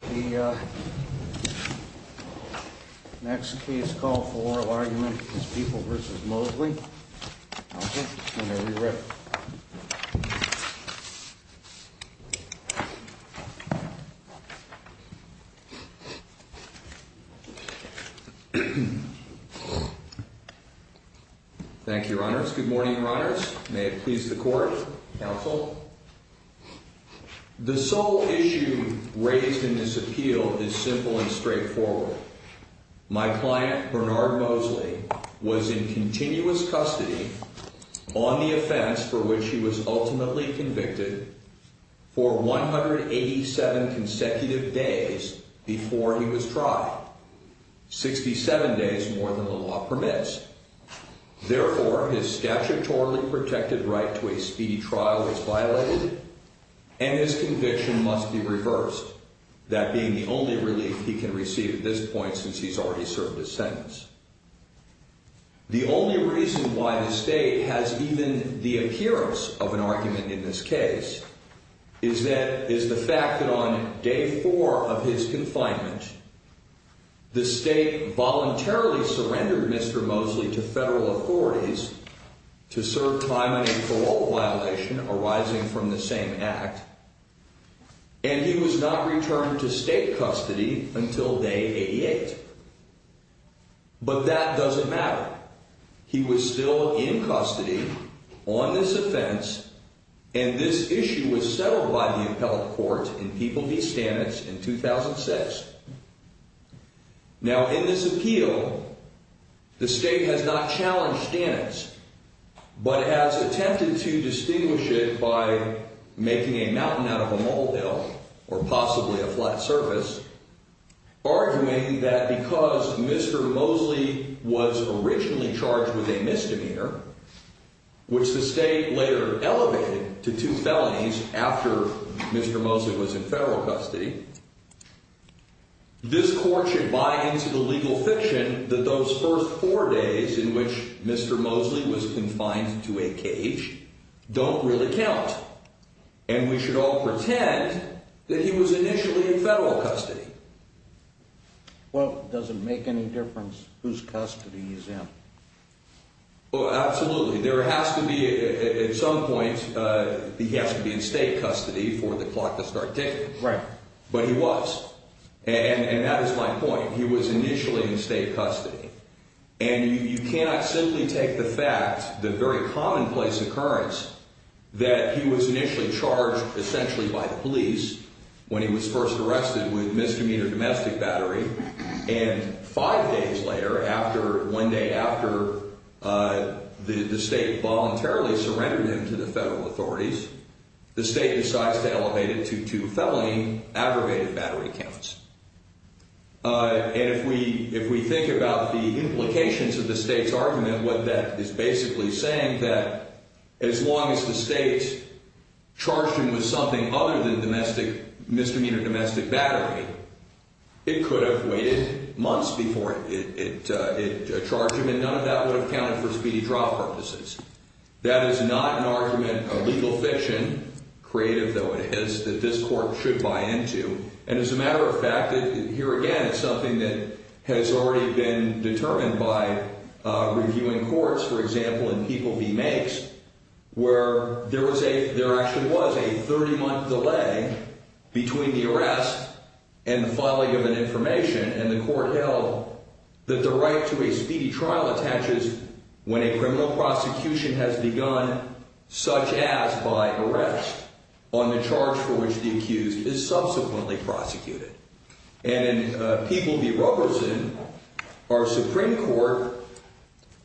The next case call for oral argument is People v. Mosley. Counsel, whenever you're ready. Thank you, Your Honors. Good morning, Your Honors. May it please the Court. Counsel. The sole issue raised in this appeal is simple and straightforward. My client, Bernard Mosley, was in continuous custody on the offense for which he was ultimately convicted for 187 consecutive days before he was tried, 67 days more than the law permits. Therefore, his statutorily protected right to a speedy trial is violated and his conviction must be reversed, that being the only relief he can receive at this point since he's already served his sentence. The only reason why the State has even the appearance of an argument in this case is the fact that on Day 4 of his confinement, the State voluntarily surrendered Mr. Mosley to federal authorities to serve time on a parole violation arising from the same act, and he was not returned to State custody until Day 88. But that doesn't matter. He was still in custody on this offense, and this issue was settled by the appellate court in People v. Stanitz in 2006. Now, in this appeal, the State has not challenged Stanitz but has attempted to distinguish it by making a mountain out of a molehill or possibly a flat surface, arguing that because Mr. Mosley was originally charged with a misdemeanor, which the State later elevated to two felonies after Mr. Mosley was in federal custody, this court should buy into the legal fiction that those first four days in which Mr. Mosley was confined to a cage don't really count, and we should all pretend that he was initially in federal custody. Well, does it make any difference whose custody he's in? Well, absolutely. There has to be, at some point, he has to be in State custody for the clock to start ticking. Right. But he was, and that is my point. And you cannot simply take the fact, the very commonplace occurrence, that he was initially charged essentially by the police when he was first arrested with misdemeanor domestic battery, and five days later, after, one day after the State voluntarily surrendered him to the federal authorities, the State decides to elevate him to two felony aggravated battery counts. And if we think about the implications of the State's argument, what that is basically saying that as long as the State charged him with something other than domestic, misdemeanor domestic battery, it could have waited months before it charged him, and none of that would have counted for speedy trial purposes. That is not an argument of legal fiction, creative though it is, that this court should buy into. And as a matter of fact, here again, it's something that has already been determined by reviewing courts, for example, in People v. Makes, where there was a, there actually was a 30-month delay between the arrest and the filing of an information, and the court held that the right to a speedy trial attaches when a criminal prosecution has begun, such as by arrest, on the charge for which the accused is subsequently charged. And in People v. Roberson, our Supreme Court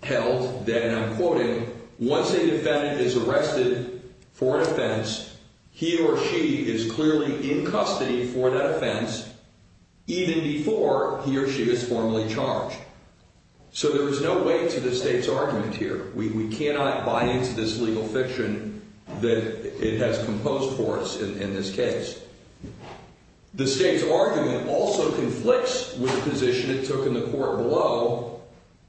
held that, and I'm quoting, once a defendant is arrested for an offense, he or she is clearly in custody for that offense, even before he or she is formally charged. So there is no weight to the State's argument here. We cannot buy into this legal fiction that it has composed for us in this case. The State's argument also conflicts with the position it took in the court below,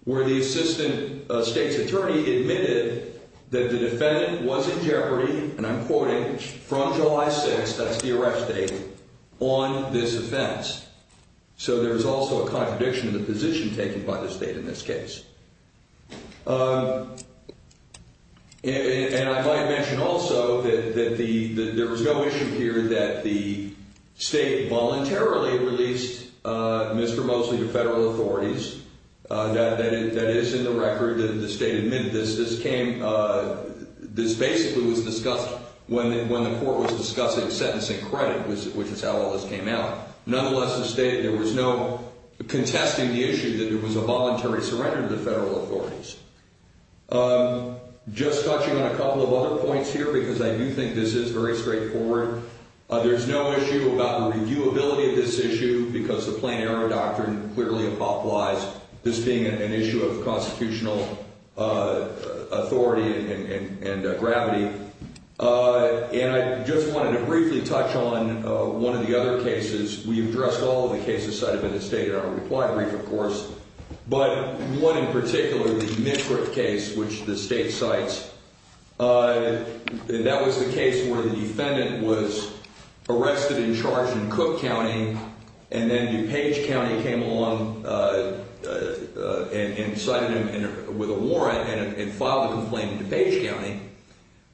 where the Assistant State's Attorney admitted that the defendant was in jeopardy, and I'm quoting, from July 6th, that's the arrest date, on this offense. So there is also a contradiction in the position taken by the State in this case. And I might mention also that there was no issue here that the State voluntarily released Mr. Mosley to federal authorities. That is in the record that the State admitted this. This basically was discussed when the court was discussing sentencing credit, which is how all this came out. Nonetheless, the State, there was no contesting the issue that it was a voluntary surrender to the federal authorities. Just touching on a couple of other points here, because I do think this is very straightforward. There's no issue about the reviewability of this issue, because the plain error doctrine clearly applies, this being an issue of constitutional authority and gravity. And I just wanted to briefly touch on one of the other cases. We addressed all of the cases cited by the State in our reply brief, of course. But one in particular, the Mitcrick case, which the State cites, that was the case where the defendant was arrested and charged in Cook County, and then DuPage County came along and cited him with a warrant and filed a complaint in DuPage County.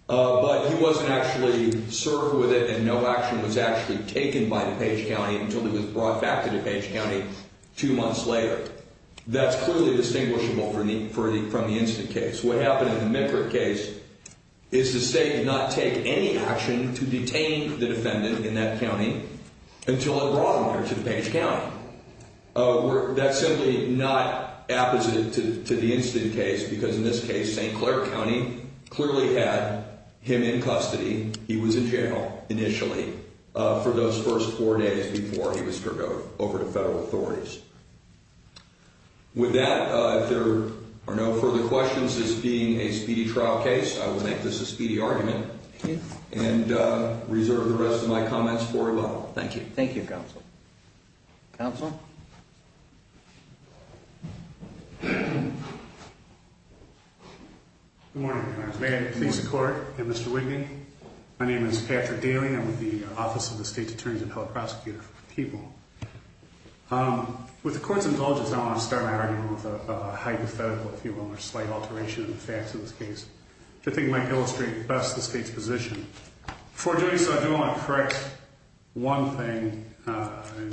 But he wasn't actually served with it, and no action was actually taken by DuPage County until he was brought back to DuPage County two months later. That's clearly distinguishable from the instant case. What happened in the Mitcrick case is the State did not take any action to detain the defendant in that county until they brought him here to DuPage County. That's simply not apposite to the instant case, because in this case, St. Clair County clearly had him in custody. He was in jail initially for those first four days before he was turned over to federal authorities. With that, if there are no further questions, this being a speedy trial case, I will make this a speedy argument and reserve the rest of my comments for a vote. Thank you, counsel. Good morning, Your Honor. May I please support Mr. Whitney? My name is Patrick Daly. I'm with the Office of the State's Attorney's Appellate Prosecutor for People. With the Court's indulgence, I want to start my argument with a hypothetical, if you will, or slight alteration in the facts of this case, which I think might illustrate best the State's position. Before doing so, I do want to correct one thing.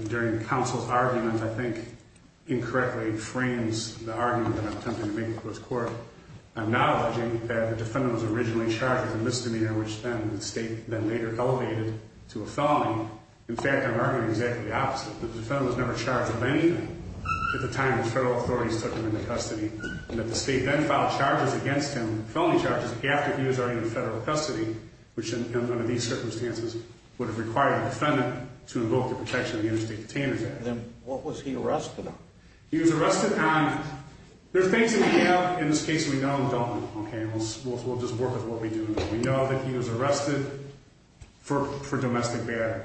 During counsel's argument, I think incorrectly frames the argument that I'm attempting to make before this Court. I'm not alleging that the defendant was originally charged with a misdemeanor, which then the State then later elevated to a felony. In fact, I'm arguing exactly the opposite. The defendant was never charged with anything at the time the federal authorities took him into custody. And that the State then filed charges against him, felony charges, after he was already in federal custody, which under these circumstances would have required a defendant to invoke the Protection of the Interstate Detainers Act. Then what was he arrested on? He was arrested on... There are things that we have in this case we know and don't know, okay? We'll just work with what we do. We know that he was arrested for domestic battery.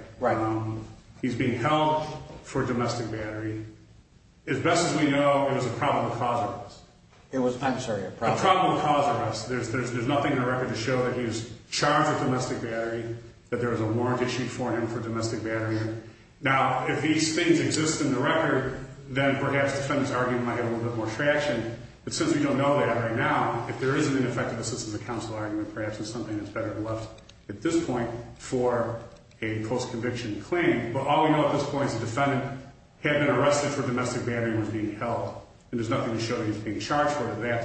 He's being held for domestic battery. As best as we know, it was a probable cause arrest. I'm sorry, a probable cause arrest. A probable cause arrest. There's nothing in the record to show that he was charged with domestic battery, that there was a warrant issued for him for domestic battery. Now, if these things exist in the record, then perhaps the defendant's argument might have a little bit more traction. But since we don't know that right now, if there is an ineffective assistance of counsel argument, perhaps it's something that's better left at this point for a post-conviction claim. But all we know at this point is the defendant had been arrested for domestic battery and was being held. And there's nothing to show that he was being charged for it at that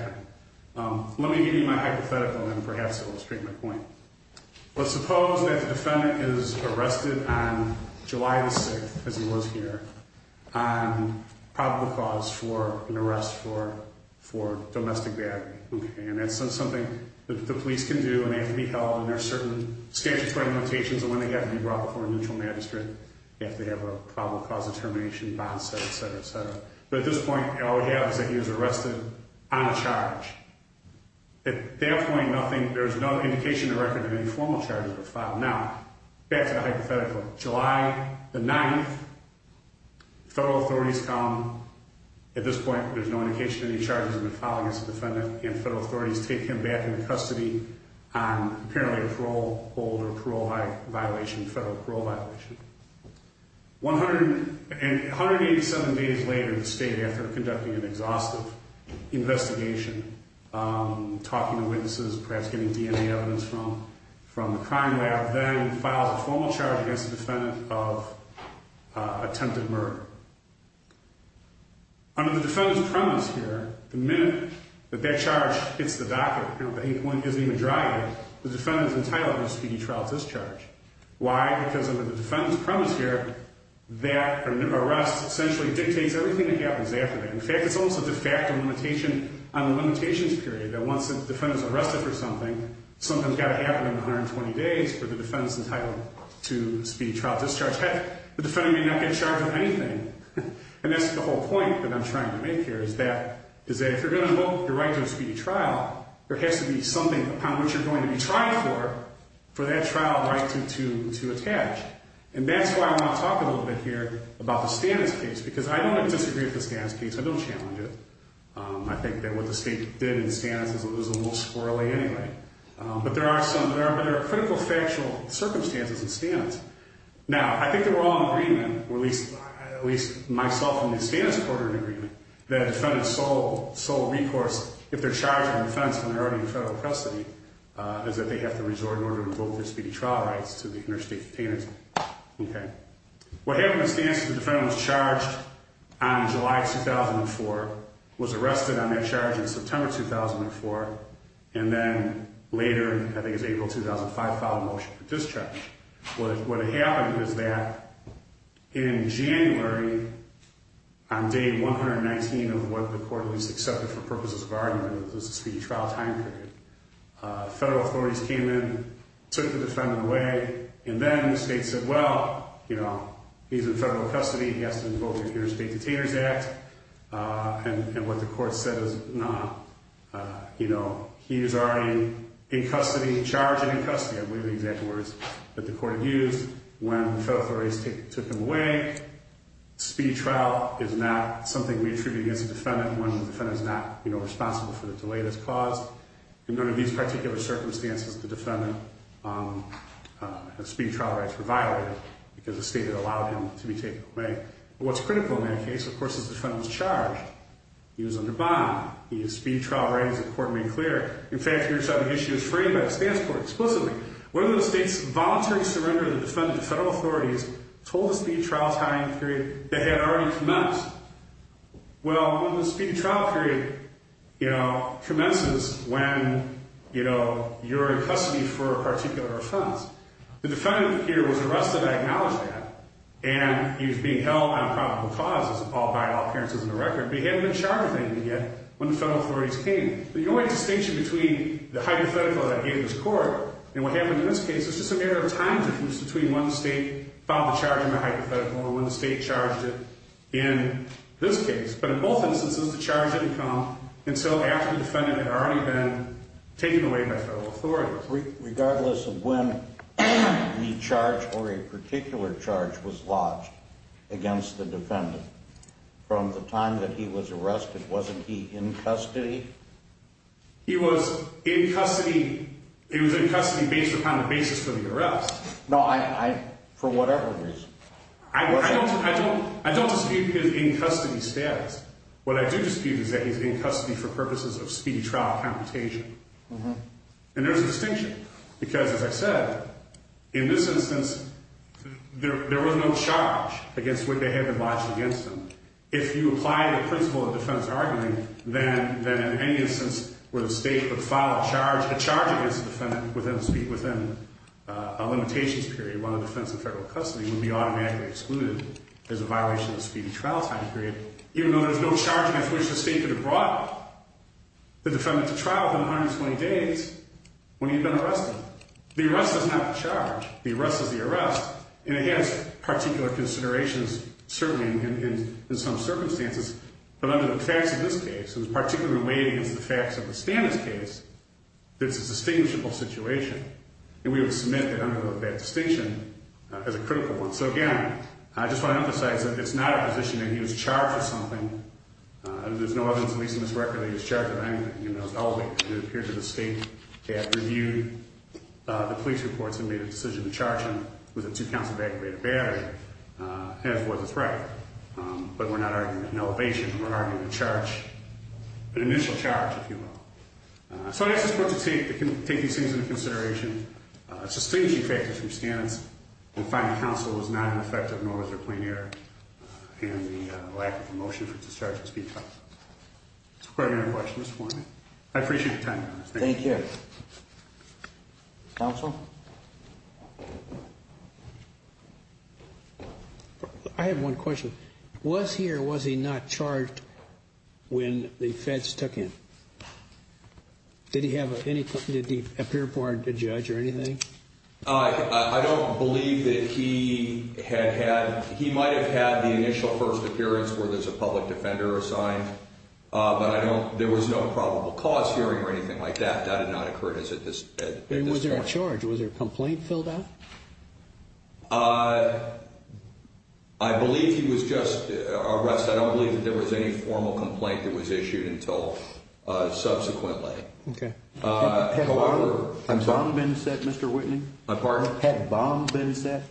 time. Let me give you my hypothetical, and perhaps it will strike my point. Let's suppose that the defendant is arrested on July the 6th, as he was here, on probable cause for an arrest for domestic battery. And that's something that the police can do, and they have to be held. And there are certain statutory limitations on when they have to be brought before a neutral magistrate. They have to have a probable cause of termination, bond set, et cetera, et cetera. But at this point, all we have is that he was arrested on a charge. At that point, nothing, there's no indication of record of any formal charges were filed. Now, back to the hypothetical. July the 9th, federal authorities come. At this point, there's no indication of any charges were filed against the defendant. And federal authorities take him back into custody on apparently a parole hold or parole violation, federal parole violation. 187 days later, the state, after conducting an exhaustive investigation, talking to witnesses, perhaps getting DNA evidence from the crime lab, then files a formal charge against the defendant of attempted murder. Under the defendant's premise here, the minute that that charge hits the docket, you know, the inkling isn't even dry yet, the defendant is entitled to a speedy trial discharge. Why? Because under the defendant's premise here, that arrest essentially dictates everything that happens after that. In fact, it's almost a de facto limitation on the limitations period that once the defendant's arrested for something, something's got to happen in 120 days for the defendant's entitled to speedy trial discharge. Heck, the defendant may not get charged with anything. And that's the whole point that I'm trying to make here is that if you're going to invoke your right to a speedy trial, there has to be something upon which you're going to be trying for, for that trial right to attach. And that's why I want to talk a little bit here about the Stannis case, because I don't disagree with the Stannis case. I don't challenge it. I think that what the state did in Stannis is a little squirrely anyway. But there are some, there are critical factual circumstances in Stannis. Now, I think they were all in agreement, or at least myself and the Stannis court are in agreement, that a defendant's sole, sole recourse, if they're charged in defense when they're already in federal custody, is that they have to resort in order to invoke their speedy trial rights to the interstate containers. Okay. What happened in Stannis is the defendant was charged on July 2004, was arrested on that charge in September 2004, and then later, I think it was April 2005, filed a motion for discharge. What, what happened was that in January, on day 119 of what the court at least accepted for purposes of argument, it was a speedy trial time period, federal authorities came in, took the defendant away. And then the state said, well, you know, he's in federal custody. He has to invoke the Interstate Detainers Act. And what the court said is, no, you know, he is already in custody, charged and in custody. I believe the exact words that the court had used when federal authorities took him away. Speedy trial is not something we attribute against the defendant when the defendant is not, you know, responsible for the delay that's caused. In none of these particular circumstances, the defendant's speedy trial rights were violated because the state had allowed him to be taken away. But what's critical in that case, of course, is the defendant was charged. He was under bond. He had speedy trial rights that the court made clear. In fact, here's how the issue is framed by the Stannis court explicitly. One of those states voluntarily surrendered the defendant to federal authorities, told the speedy trial time period they had already commenced. Well, the speedy trial period, you know, commences when, you know, you're in custody for a particular offense. The defendant here was arrested. I acknowledge that. And he was being held on probable cause, as appalled by all appearances in the record. But he hadn't been charged with anything yet when the federal authorities came. The only distinction between the hypothetical that I gave this court and what happened in this case is just a matter of time difference between when the state found the charge in the hypothetical and when the state charged it in this case. But in both instances, the charge didn't come until after the defendant had already been taken away by federal authorities. Regardless of when the charge or a particular charge was lodged against the defendant, from the time that he was arrested, wasn't he in custody? He was in custody. He was in custody based upon the basis of the arrest. No, I, for whatever reason. I don't, I don't, I don't dispute his in custody status. What I do dispute is that he's in custody for purposes of speedy trial computation. And there's a distinction because, as I said, in this instance, there, there was no charge against what they had been lodged against him. If you apply the principle of defense argument, then, then in any instance where the state would file a charge, a charge against the defendant within, within a limitations period while in defense of federal custody would be automatically excluded as a violation of speedy trial time period. Even though there's no charge against which the state could have brought the defendant to trial within 120 days when he'd been arrested. The arrest doesn't have a charge. The arrest, and it has particular considerations, certainly in, in, in some circumstances. But under the facts of this case, it was particularly related against the facts of the Stannis case, that it's a distinguishable situation. And we would submit that under that distinction as a critical one. So again, I just want to emphasize that it's not a position that he was charged with something. There's no evidence at least in this record that he was charged with anything. You know, it's all, it appeared that the state had reviewed the police reports and made a decision to charge him with a two counts of aggravated battery as was his right. But we're not arguing an elevation. We're arguing a charge, an initial charge, if you will. So I just want to take, take these things into consideration. A distinguishing factor from Stannis is that the finding of counsel was not an effective nor was there a plain error. And the lack of a motion for discharge of speed trial. Does that answer your question, Mr. Foreman? I appreciate your time. Thank you. Thank you. I have one question. Was he or was he not charged when the feds took him? Did he have any, did he appear before a judge or anything? I don't believe that he had had, he might have had the initial first appearance where there's a public defender assigned. But I don't, there was no probable cause hearing or anything like that. That did not occur to us at this time. And was there a charge? Was there a complaint filled out? I believe he was just arrested. I don't believe that there was any formal complaint that was issued until subsequently. Okay. Had a bomb been set, Mr. Whitney? My pardon? Had a bomb been set?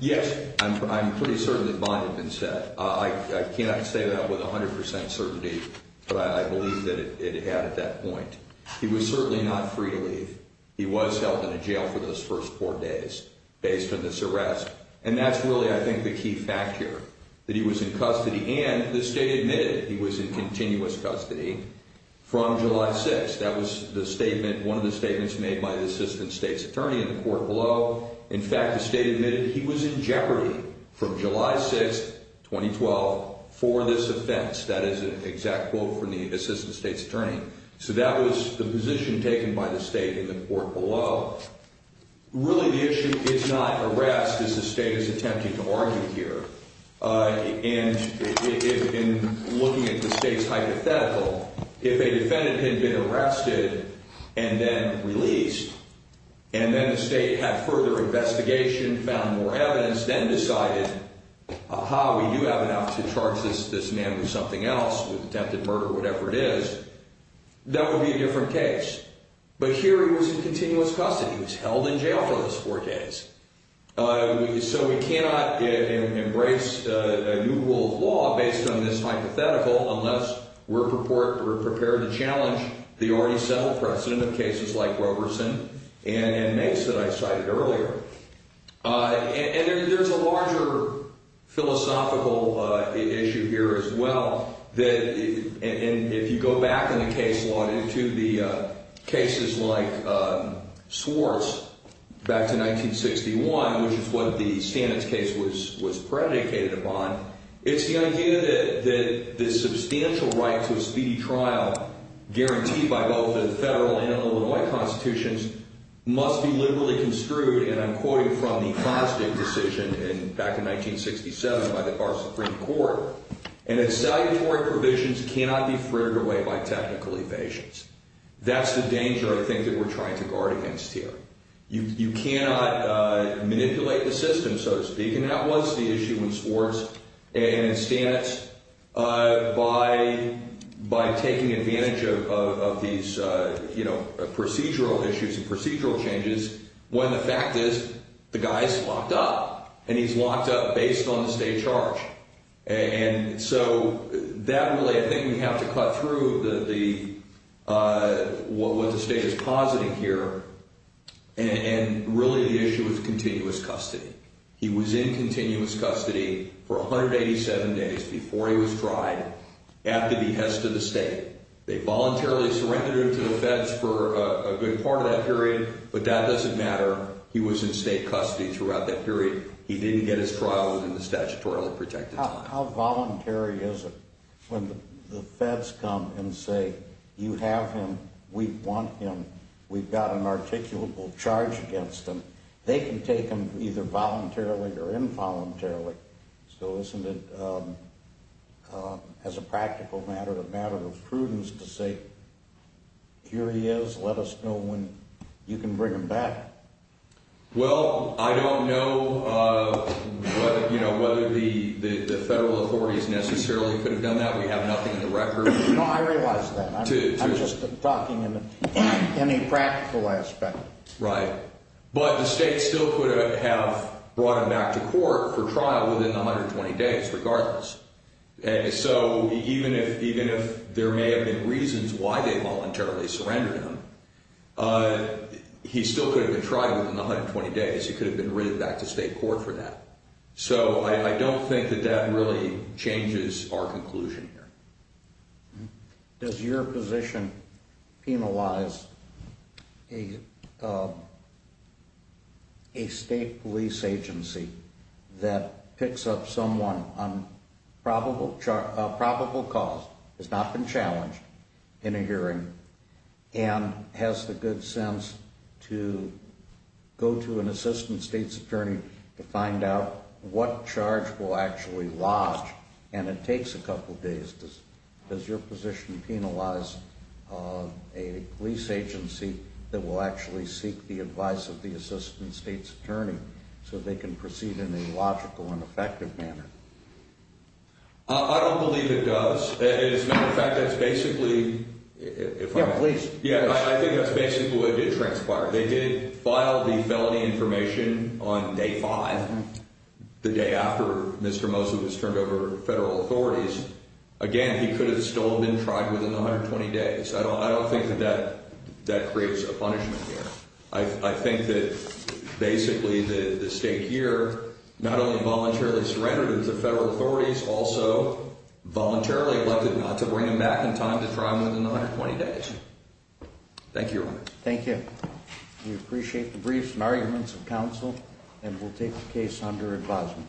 Yes. I'm pretty certain that a bomb had been set. I cannot say that with 100% certainty, but I believe that it had at that point. He was certainly not free to leave. He was held in a jail for those first four days based on this arrest. And that's really, I think, the key factor, that he was in custody. And the state admitted he was in continuous custody from July 6th. That was the statement, one of the statements made by the Assistant State's Attorney in the court below. In fact, the state admitted he was in jeopardy from July 6th, 2012, for this offense. That is an exact quote from the Assistant State's Attorney. So that was the position taken by the state in the court below. Really, the issue is not arrest, as the state is attempting to argue here. And in looking at the state's hypothetical, if a defendant had been arrested and then released, and then the state had further investigation, found more evidence, then decided, aha, we do have enough to charge this man with something else, with attempted murder, whatever it is, that would be a different case. But here he was in continuous custody. He was held in jail for those four days. So we cannot embrace a new rule of law based on this hypothetical unless we're prepared to challenge the already settled precedent of cases like Roberson and Mace that I cited earlier. And there's a larger philosophical issue here as well. And if you go back in the case law to the cases like Swartz back to 1961, which is what the Stannis case was predicated upon, it's the idea that the substantial rights of speedy trial, guaranteed by both the federal and Illinois constitutions, must be liberally construed, and I'm quoting from the Fosdick decision back in 1967 by our Supreme Court, and that salutary provisions cannot be frittered away by technical evasions. That's the danger, I think, that we're trying to guard against here. You cannot manipulate the system, so to speak, and that was the issue in Swartz. And Stannis, by taking advantage of these procedural issues and procedural changes, when the fact is the guy's locked up, and he's locked up based on the state charge. And so that really, I think we have to cut through what the state is positing here, and really the issue is continuous custody. He was in continuous custody for 187 days before he was tried, after behest of the state. They voluntarily surrendered him to the feds for a good part of that period, but that doesn't matter. He was in state custody throughout that period. He didn't get his trial within the statutorily projected time. How voluntary is it when the feds come and say, you have him, we want him, we've got an articulable charge against him, they can take him either voluntarily or involuntarily. So isn't it, as a practical matter, a matter of prudence to say, here he is, let us know when you can bring him back? Well, I don't know whether the federal authorities necessarily could have done that. We have nothing on the record. No, I realize that. I'm just talking in any practical aspect. Right. But the state still could have brought him back to court for trial within 120 days, regardless. So even if there may have been reasons why they voluntarily surrendered him, he still could have been tried within 120 days. He could have been written back to state court for that. So I don't think that that really changes our conclusion here. Does your position penalize a state police agency that picks up someone on probable cause, has not been challenged in a hearing, and has the good sense to go to an assistant state's attorney to find out what charge will actually lodge, and it takes a couple of days. Does your position penalize a police agency that will actually seek the advice of the assistant state's attorney so they can proceed in a logical and effective manner? I don't believe it does. As a matter of fact, that's basically... Yeah, please. Yeah, I think that's basically what did transpire. They did file the felony information on day five, the day after Mr. Mosley was turned over to federal authorities. Again, he could have still been tried within 120 days. I don't think that that creates a punishment here. I think that basically the state here not only voluntarily surrendered him, the federal authorities also voluntarily elected not to bring him back in time to try him within 120 days. Thank you, Your Honor. Thank you. Okay, we appreciate the briefs and arguments of counsel, and we'll take the case under advisement.